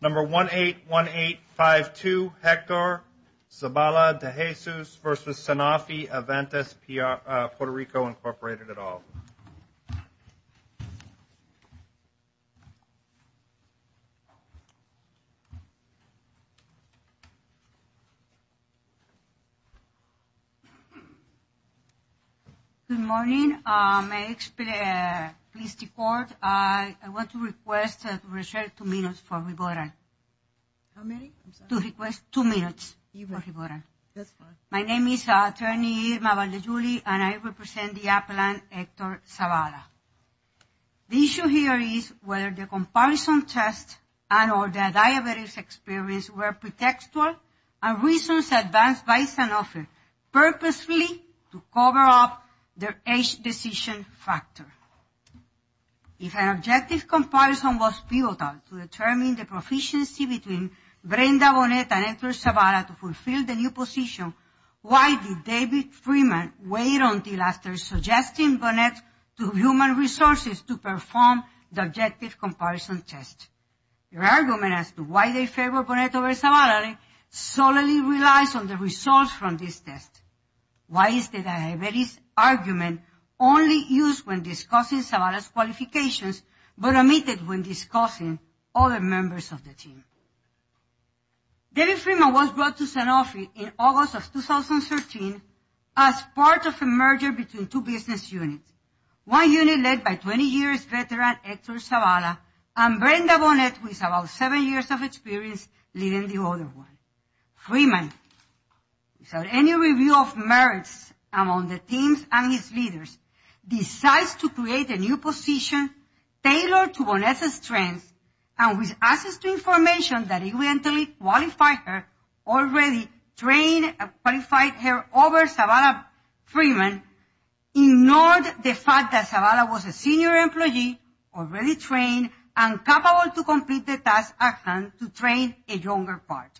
Number 181852, Hector Zabala-de Jesus v. Sanofi Aventis PR, Puerto Rico, Incorporated, et al. Good morning, my ex-police deport. I want to request to reserve two minutes for rebuttal. How many? I'm sorry. To request two minutes for rebuttal. That's fine. My name is Attorney Irma Valdezuli, and I represent the appellant Hector Zabala. The issue here is whether the comparison test and or the diabetes experience were pretextual and reasons advanced by Sanofi purposely to cover up their age decision factor. If an objective comparison was pivotal to determine the proficiency between Brenda Bonet and Hector Zabala to fulfill the new position, why did David Freeman wait until after suggesting Bonet to human resources to perform the objective comparison test? Their argument as to why they favor Bonet over Zabala solely relies on the results from this test. Why is the diabetes argument only used when discussing Zabala's qualifications but omitted when discussing other members of the team? David Freeman was brought to Sanofi in August of 2013 as part of a merger between two business units. One unit led by 20 years veteran Hector Zabala and Brenda Bonet with about seven years of experience leading the other one. Freeman, without any review of merits among the teams and its leaders, decides to create a new position tailored to Bonet's strengths and with access to information that evidently qualified her over Zabala Freeman, ignored the fact that Zabala was a senior employee already trained and capable to complete the task at hand to train a younger part.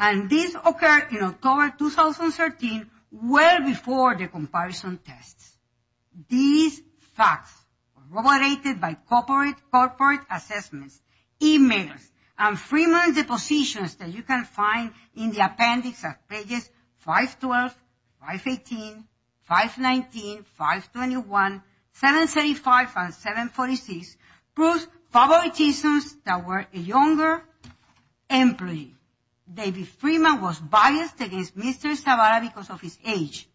And this occurred in October 2013, well before the comparison tests. These facts, corroborated by corporate assessments, emails, and Freeman's depositions that you can find in the appendix of pages 512, 518, 519, 521, 735, and 746, proves favoritisms that were a younger employee. David Freeman was biased against Mr. Zabala because of his age.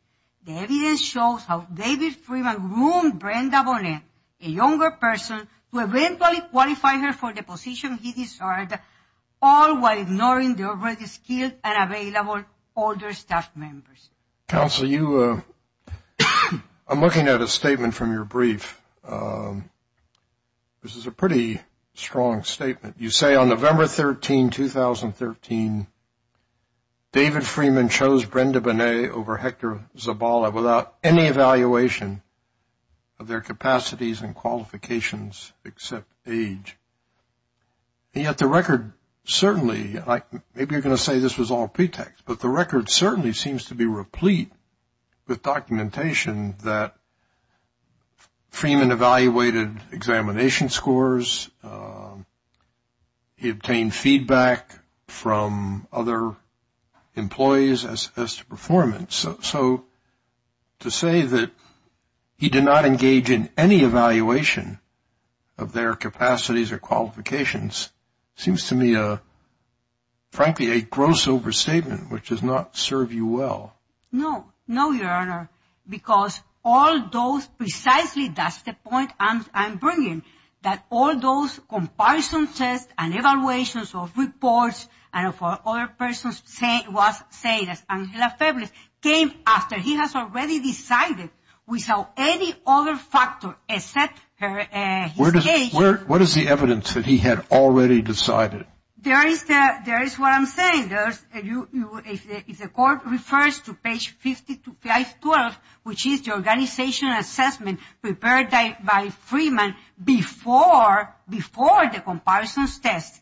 The evidence shows how David Freeman ruined Brenda Bonet, a younger person, to eventually qualify her for the position he desired, all while ignoring the already skilled and available older staff members. Counsel, I'm looking at a statement from your brief. This is a pretty strong statement. You say on November 13, 2013, David Freeman chose Brenda Bonet over Hector Zabala without any evaluation of their capacities and qualifications except age. Yet the record certainly, maybe you're going to say this was all pretext, but the record certainly seems to be replete with documentation that Freeman evaluated examination scores. He obtained feedback from other employees as to performance. So to say that he did not engage in any evaluation of their capacities or qualifications seems to me, frankly, a gross overstatement, which does not serve you well. No, no, Your Honor, because all those precisely, that's the point I'm bringing, that all those comparison tests and evaluations of reports and for other persons was saying that Angela Feblis came after he has already decided without any other factor except her age. What is the evidence that he had already decided? There is what I'm saying. If the court refers to page 512, which is the organization assessment prepared by Freeman before the comparisons test,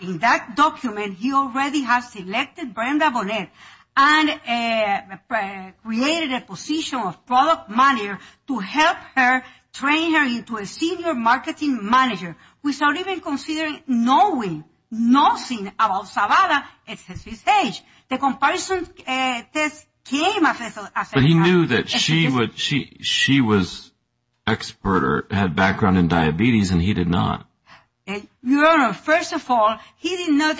in that document he already has selected Brenda Bonet and created a position of product manager to help her, train her into a senior marketing manager without even considering no other factor. Knowing nothing about Zavala except his age. The comparison test came as a surprise. But he knew that she was expert or had background in diabetes and he did not. Your Honor, first of all, he did not,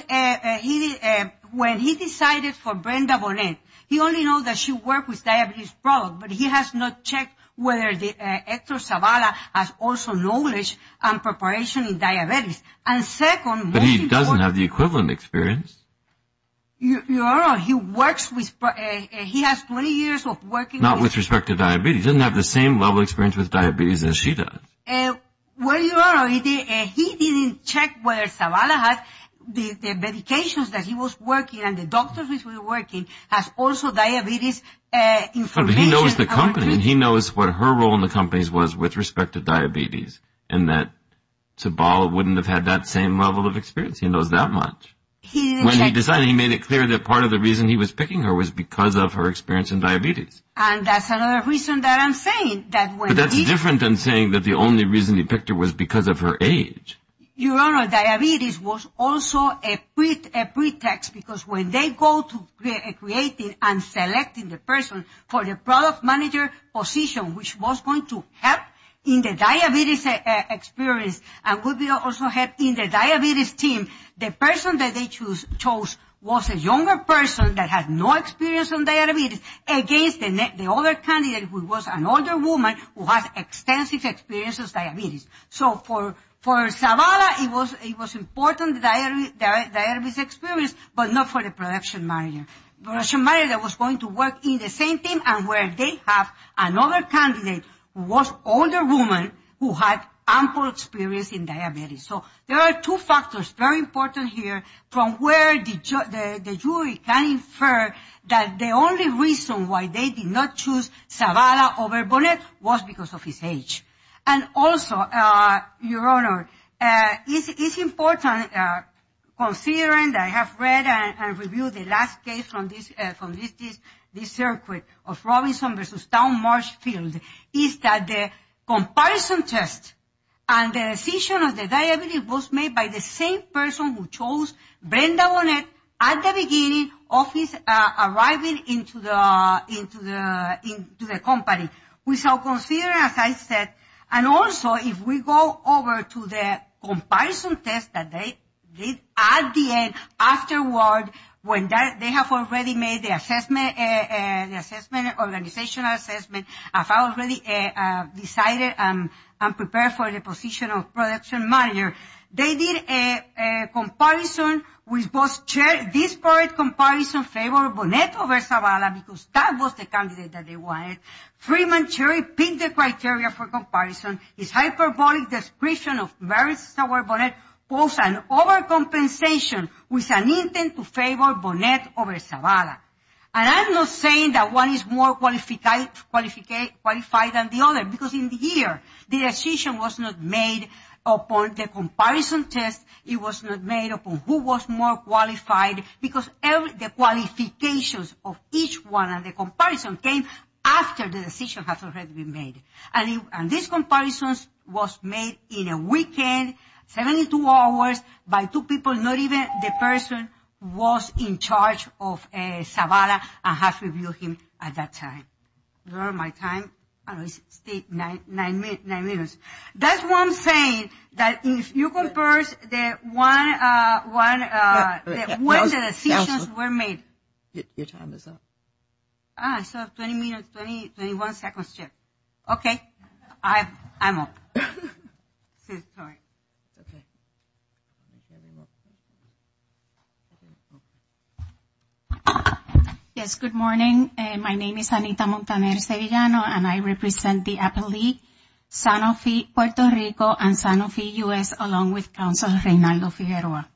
when he decided for Brenda Bonet, he only know that she worked with diabetes product, but he has not checked whether Hector Zavala has also knowledge and preparation in diabetes. But he doesn't have the equivalent experience. Your Honor, he has 20 years of working experience. Not with respect to diabetes. He doesn't have the same level of experience with diabetes as she does. Well, Your Honor, he didn't check whether Zavala had the medications that he was working and the doctors that he was working has also diabetes information. Your Honor, he knows the company and he knows what her role in the company was with respect to diabetes and that Zavala wouldn't have had that same level of experience. He knows that much. When he decided, he made it clear that part of the reason he was picking her was because of her experience in diabetes. And that's another reason that I'm saying. But that's different than saying that the only reason he picked her was because of her age. Your Honor, diabetes was also a pretext because when they go to creating and selecting the person for the product manager position which was going to help in the diabetes experience and would also help in the diabetes team, the person that they chose was a younger person that had no experience in diabetes against the other candidate who was an older woman who has extensive experience with diabetes. So for Zavala, it was important the diabetes experience but not for the production manager. The production manager was going to work in the same team and where they have another candidate who was an older woman who had ample experience in diabetes. So there are two factors very important here from where the jury can infer that the only reason why they did not choose Zavala over Bonet was because of his age. And also, Your Honor, it's important considering that I have read and reviewed the last case from this circuit of Robinson v. Town Marshfield is that the comparison test and the decision of the diabetes was made by the same person who chose Brenda Bonet at the beginning of his arriving into the company. We shall consider, as I said, and also if we go over to the comparison test that they did at the end afterward when they have already made the assessment, organizational assessment, have already decided and prepared for the position of production manager. They did a comparison. This part of the comparison favored Bonet over Zavala because that was the candidate that they wanted. Freeman Cherry picked the criteria for comparison. His hyperbolic description of Mary Sauer Bonet posed an overcompensation with an intent to favor Bonet over Zavala. And I'm not saying that one is more qualified than the other because in the year the decision was not made upon the comparison test. It was not made upon who was more qualified because the qualifications of each one of the comparisons came after the decision had already been made. And this comparison was made in a weekend, 72 hours, by two people, not even the person who was in charge of Zavala and had to review him at that time. Where is my time? It's still nine minutes. That's why I'm saying that if you compare the one, when the decisions were made. Your time is up. Ah, so 20 minutes, 20, 21 seconds check. Okay. I'm up. Okay. Yes, good morning. My name is Anita Montaner-Sevillano and I represent the appellee Sanofi Puerto Rico and Sanofi U.S. along with counsel Reynaldo Figueroa.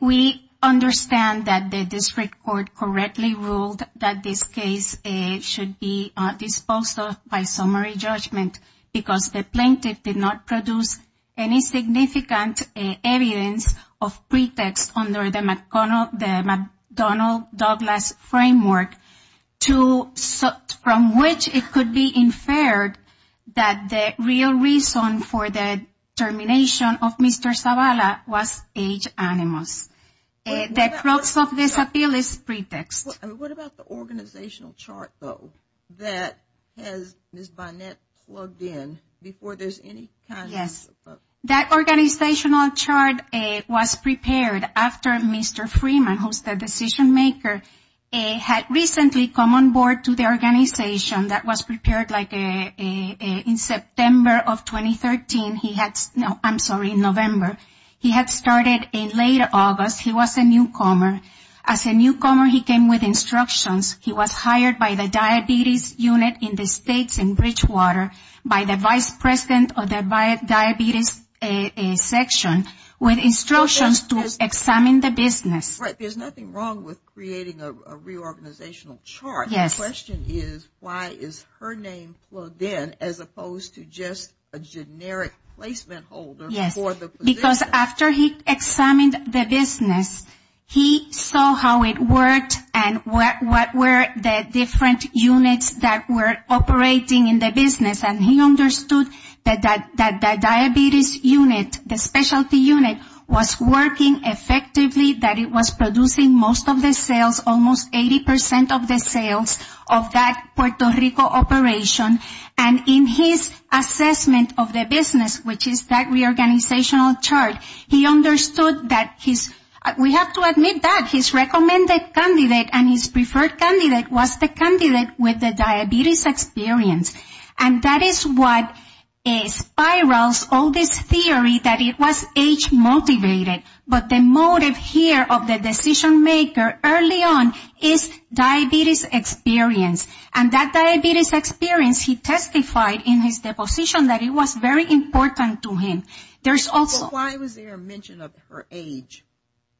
We understand that the district court correctly ruled that this case should be disposed of by summary judgment. Because the plaintiff did not produce any significant evidence of pretext under the McDonnell-Douglas framework. From which it could be inferred that the real reason for the termination of Mr. Zavala was age animus. The process of this appeal is pretext. What about the organizational chart, though, that has Ms. Bynette plugged in before there's any kind of? That organizational chart was prepared after Mr. Freeman, who's the decision maker, had recently come on board to the organization. That was prepared like in September of 2013. No, I'm sorry, in November. He had started in late August. He was a newcomer. As a newcomer, he came with instructions. He was hired by the diabetes unit in the states in Bridgewater by the vice president of the diabetes section with instructions to examine the business. Right. There's nothing wrong with creating a reorganizational chart. Yes. The question is why is her name plugged in as opposed to just a generic placement holder for the position? Because after he examined the business, he saw how it worked and what were the different units that were operating in the business. And he understood that the diabetes unit, the specialty unit, was working effectively, that it was producing most of the sales, almost 80% of the sales of that Puerto Rico operation. And in his assessment of the business, which is that reorganizational chart, he understood that his, we have to admit that his recommended candidate and his preferred candidate was the candidate with the diabetes experience. And that is what spirals all this theory that it was age motivated. But the motive here of the decision maker early on is diabetes experience. And that diabetes experience, he testified in his deposition that it was very important to him. There's also. Why was there a mention of her age?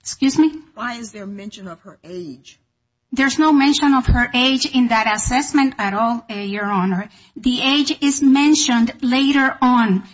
Excuse me? Why is there a mention of her age? There's no mention of her age in that assessment at all, Your Honor. The age is mentioned later on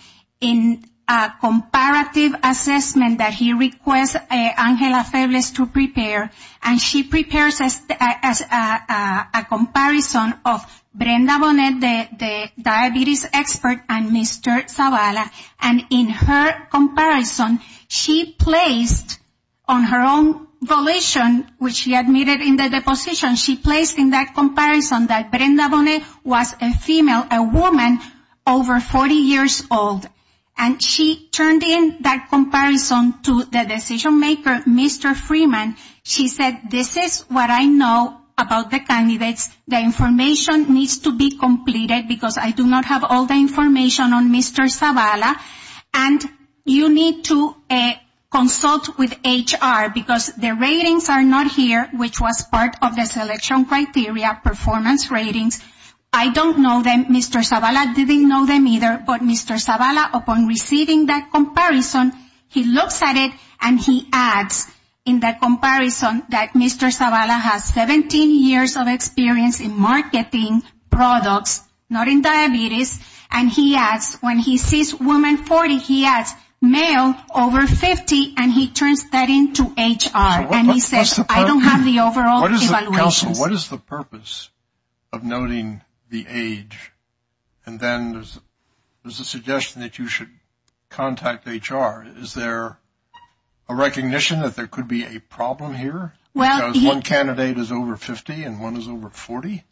in a comparative assessment that he requests Angela Febles to prepare. And she prepares a comparison of Brenda Bonet, the diabetes expert, and Mr. Zavala. And in her comparison, she placed on her own volition, which she admitted in the deposition, she placed in that comparison that Brenda Bonet was a female, a woman over 40 years old. And she turned in that comparison to the decision maker, Mr. Freeman. She said, this is what I know about the candidates. The information needs to be completed because I do not have all the information on Mr. Zavala. And you need to consult with HR because the ratings are not here, which was part of the selection criteria, performance ratings. I don't know them. Mr. Zavala didn't know them either. But Mr. Zavala, upon receiving that comparison, he looks at it and he adds in that comparison, that Mr. Zavala has 17 years of experience in marketing products, not in diabetes. And he adds, when he sees woman 40, he adds male over 50, and he turns that into HR. And he says, I don't have the overall evaluations. So what is the purpose of noting the age? And then there's a suggestion that you should contact HR. Is there a recognition that there could be a problem here? Because one candidate is over 50 and one is over 40?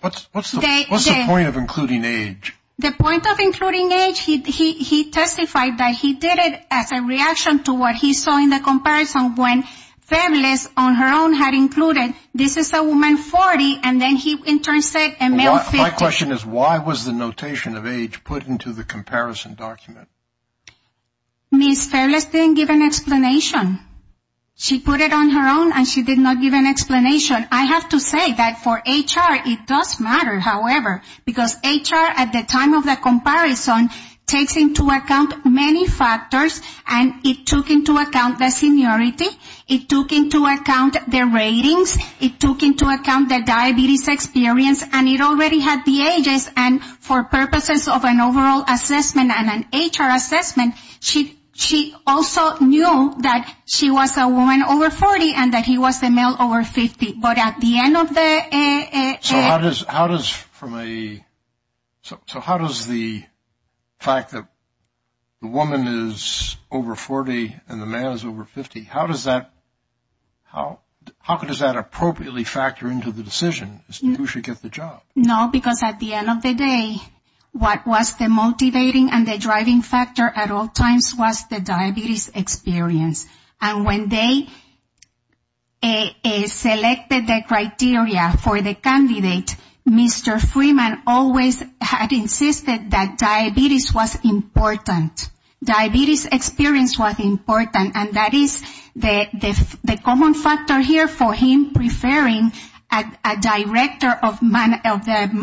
What's the point of including age? The point of including age, he testified that he did it as a reaction to what he saw in the comparison when families on her own had included, this is a woman 40, and then he in turn said a male 50. My question is, why was the notation of age put into the comparison document? Ms. Fairless didn't give an explanation. She put it on her own and she did not give an explanation. I have to say that for HR, it does matter, however. Because HR, at the time of the comparison, takes into account many factors and it took into account the seniority, it took into account the ratings, it took into account the diabetes experience, and it already had the ages. And for purposes of an overall assessment and an HR assessment, she also knew that she was a woman over 40 and that he was a male over 50. So how does the fact that the woman is over 40 and the man is over 50, how does that appropriately factor into the decision as to who should get the job? No, because at the end of the day, what was the motivating and the driving factor at all times was the diabetes experience. And when they selected the criteria for the candidate, Mr. Freeman always had insisted that diabetes was important. Diabetes experience was important and that is the common factor here for him preferring a director of the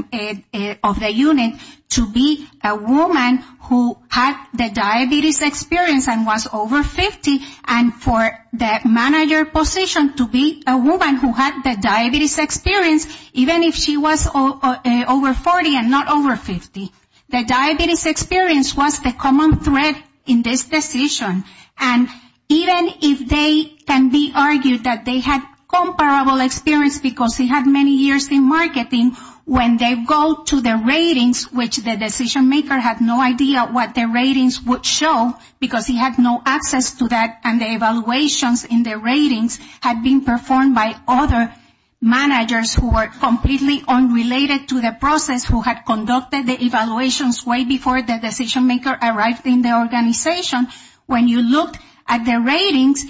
unit to be a woman who had the diabetes experience and was over 50 and for the manager position to be a woman who had the diabetes experience even if she was over 40 and not over 50. The diabetes experience was the common thread in this decision and even if they can be argued that they had comparable experience because he had many years in marketing, when they go to the ratings, which the decision maker had no idea what the ratings would show because he had no access to that and the evaluations in the ratings had been performed by other managers who were completely unrelated to the process who had conducted the evaluations way before the decision maker arrived in the organization, when you looked at the ratings,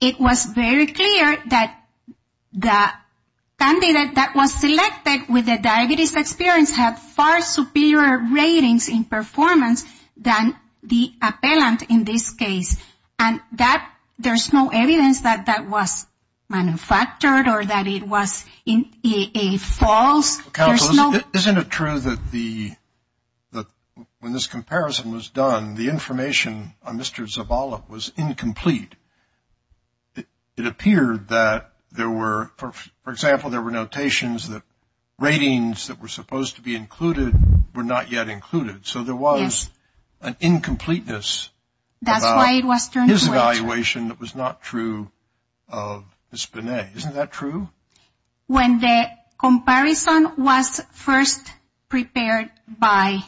it was very clear that the candidate that was selected with the diabetes experience had far superior ratings in performance than the appellant in this case and there's no evidence that that was manufactured or that it was a false. Isn't it true that when this comparison was done, the information on Mr. Zavala was incomplete? It appeared that there were, for example, there were notations that ratings that were supposed to be included were not yet included, so there was an incompleteness about his evaluation that was not true of Ms. Benet. Isn't that true? When the comparison was first prepared by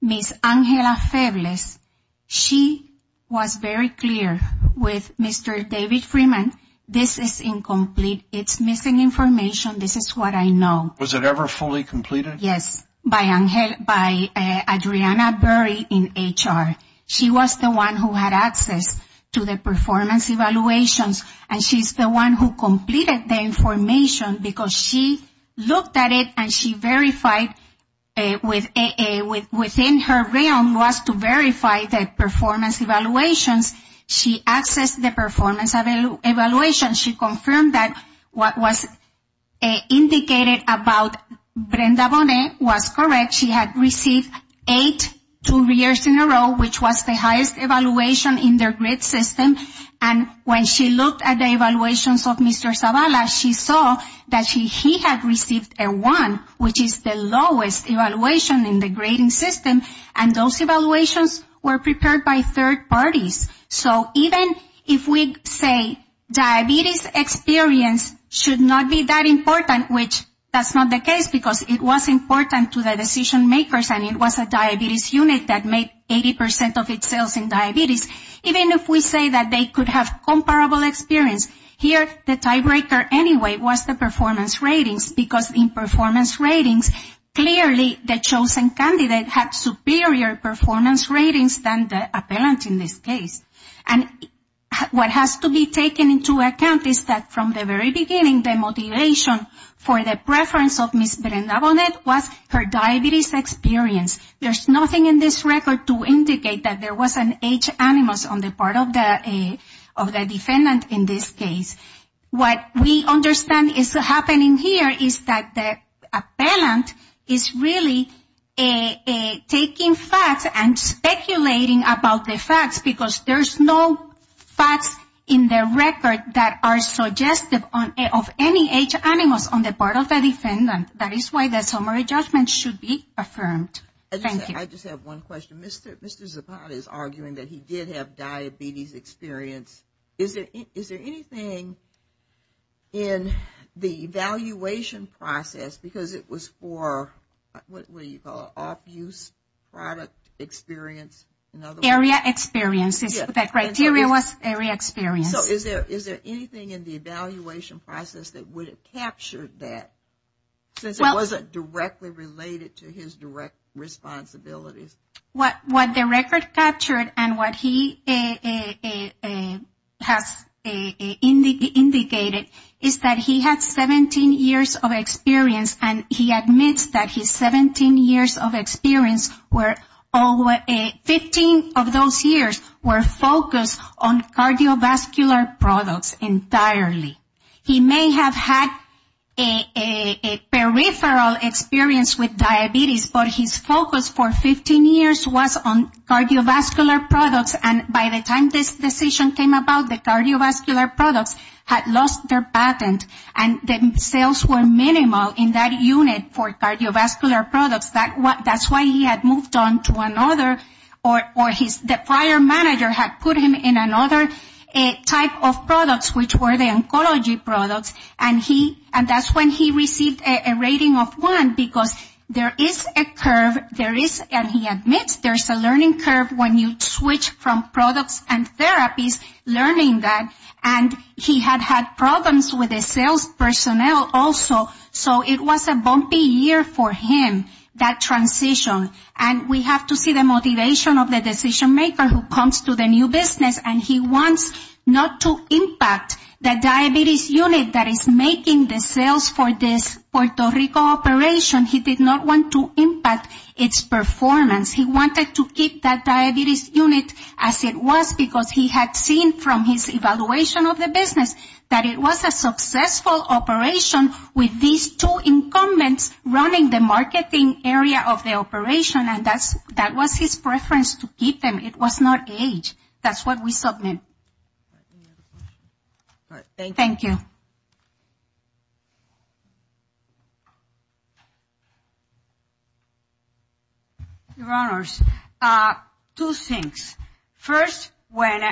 Ms. Angela Febles, she was very clear with Mr. David Freeman, this is incomplete, it's missing information, this is what I know. Was it ever fully completed? Yes, by Adriana Berry in HR. She was the one who had access to the performance evaluations and she's the one who completed the information because she looked at it and she verified within her realm was to verify the performance evaluations. She accessed the performance evaluations. She confirmed that what was indicated about Brenda Bonet was correct. She had received eight two years in a row, which was the highest evaluation in their grade system and when she looked at the evaluations of Mr. Zavala, she saw that he had received a one, which is the lowest evaluation in the grading system and those evaluations were prepared by third parties. So even if we say diabetes experience should not be that important, which that's not the case because it was important to the decision makers and it was a diabetes unit that made 80% of its cells in diabetes, even if we say that they could have comparable experience, here the tiebreaker anyway was the performance ratings because in performance ratings, clearly the chosen candidate had superior performance ratings than the appellant in this case. And what has to be taken into account is that from the very beginning, the motivation for the preference of Ms. Brenda Bonet was her diabetes experience. There's nothing in this record to indicate that there was an H animus on the part of the defendant in this case. What we understand is happening here is that the defendant is clearly taking facts and speculating about the facts because there's no facts in the record that are suggestive of any H animus on the part of the defendant. That is why the summary judgment should be affirmed. Thank you. I just have one question. Mr. Zavala is arguing that he did have diabetes experience. Is there anything in the evaluation process because it was for, what do you call it, off-use product experience? Area experience. That criteria was area experience. So is there anything in the evaluation process that would have captured that since it wasn't directly related to his direct responsibilities? What the record captured and what he has indicated is that he had 17 years of experience and he admits that his 17 years of experience, 15 of those years were focused on cardiovascular products entirely. He may have had a peripheral experience with diabetes, but his focus for 15 years was on cardiovascular products and by the time this decision came about, the cardiovascular products had sales were minimal in that unit for cardiovascular products. That's why he had moved on to another or the prior manager had put him in another type of products which were the oncology products. And that's when he received a rating of 1 because there is a curve, and he admits there's a learning curve when you switch from products and therapies, learning that. And he had problems with the sales personnel also, so it was a bumpy year for him, that transition. And we have to see the motivation of the decision maker who comes to the new business and he wants not to impact the diabetes unit that is making the sales for this Puerto Rico operation. He did not want to impact its performance. He wanted to keep that diabetes unit as it was because he had seen from his evaluation of the business that it was a successful operation with these two incumbents running the marketing area of the operation, and that was his preference to keep them. It was not age. That's what we submit. Thank you. Your Honors, two things. First, when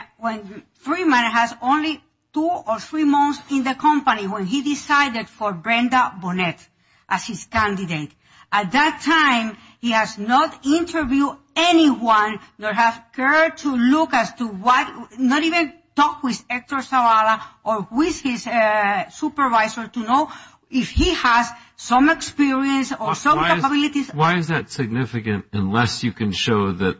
Freeman has only two or three months in the company, when he decided for Brenda Burnett as his candidate, at that time he has not interviewed anyone nor has cared to look as to what, not even talk with Hector Zavala or with his supervisor to know if he has some experience or some capabilities. Why is that significant unless you can show that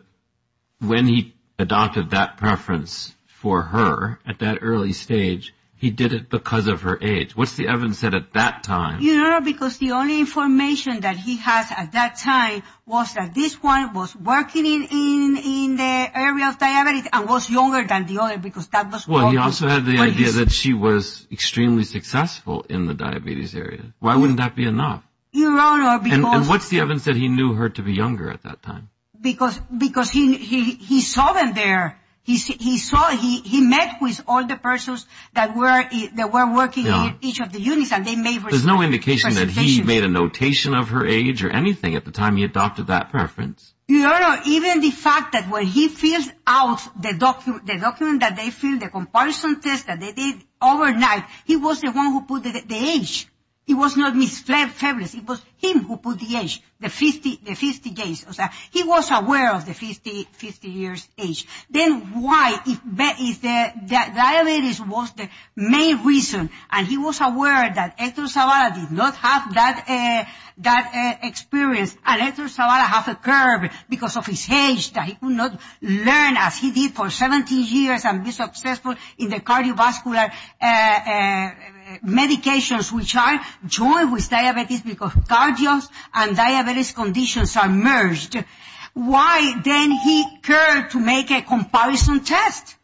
when he adopted that preference for her at that early stage, he did it because of her age? What's the evidence that at that time... Your Honor, because the only information that he has at that time was that this one was working in the area of diabetes and was younger than the other because that was... Well, he also had the idea that she was extremely successful in the diabetes area. Why wouldn't that be enough? Your Honor, because... And what's the evidence that he knew her to be because he saw them there. He met with all the persons that were working in each of the units and they made... There's no indication that he made a notation of her age or anything at the time he adopted that preference. Your Honor, even the fact that when he fills out the document that they filled, the comparison test that they did overnight, he was the one who put the age. It was not Ms. Febles. It was him who put the age, the 50 years age. Then why... Diabetes was the main reason and he was aware that Hector Zavala did not have that experience and Hector Zavala had a curve because of his age that he could not learn as he did for 70 years and be successful in the cardiovascular medications which are joined with diabetes because cardio and diabetes conditions are merged. Why didn't he care to make a comparison test?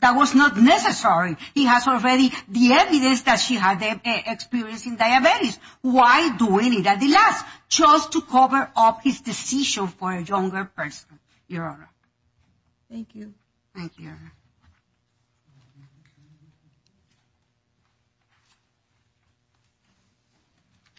That was not necessary. He has already the evidence that she had an experience in diabetes. Why doing it at the last? Just to cover up his decision for a younger person.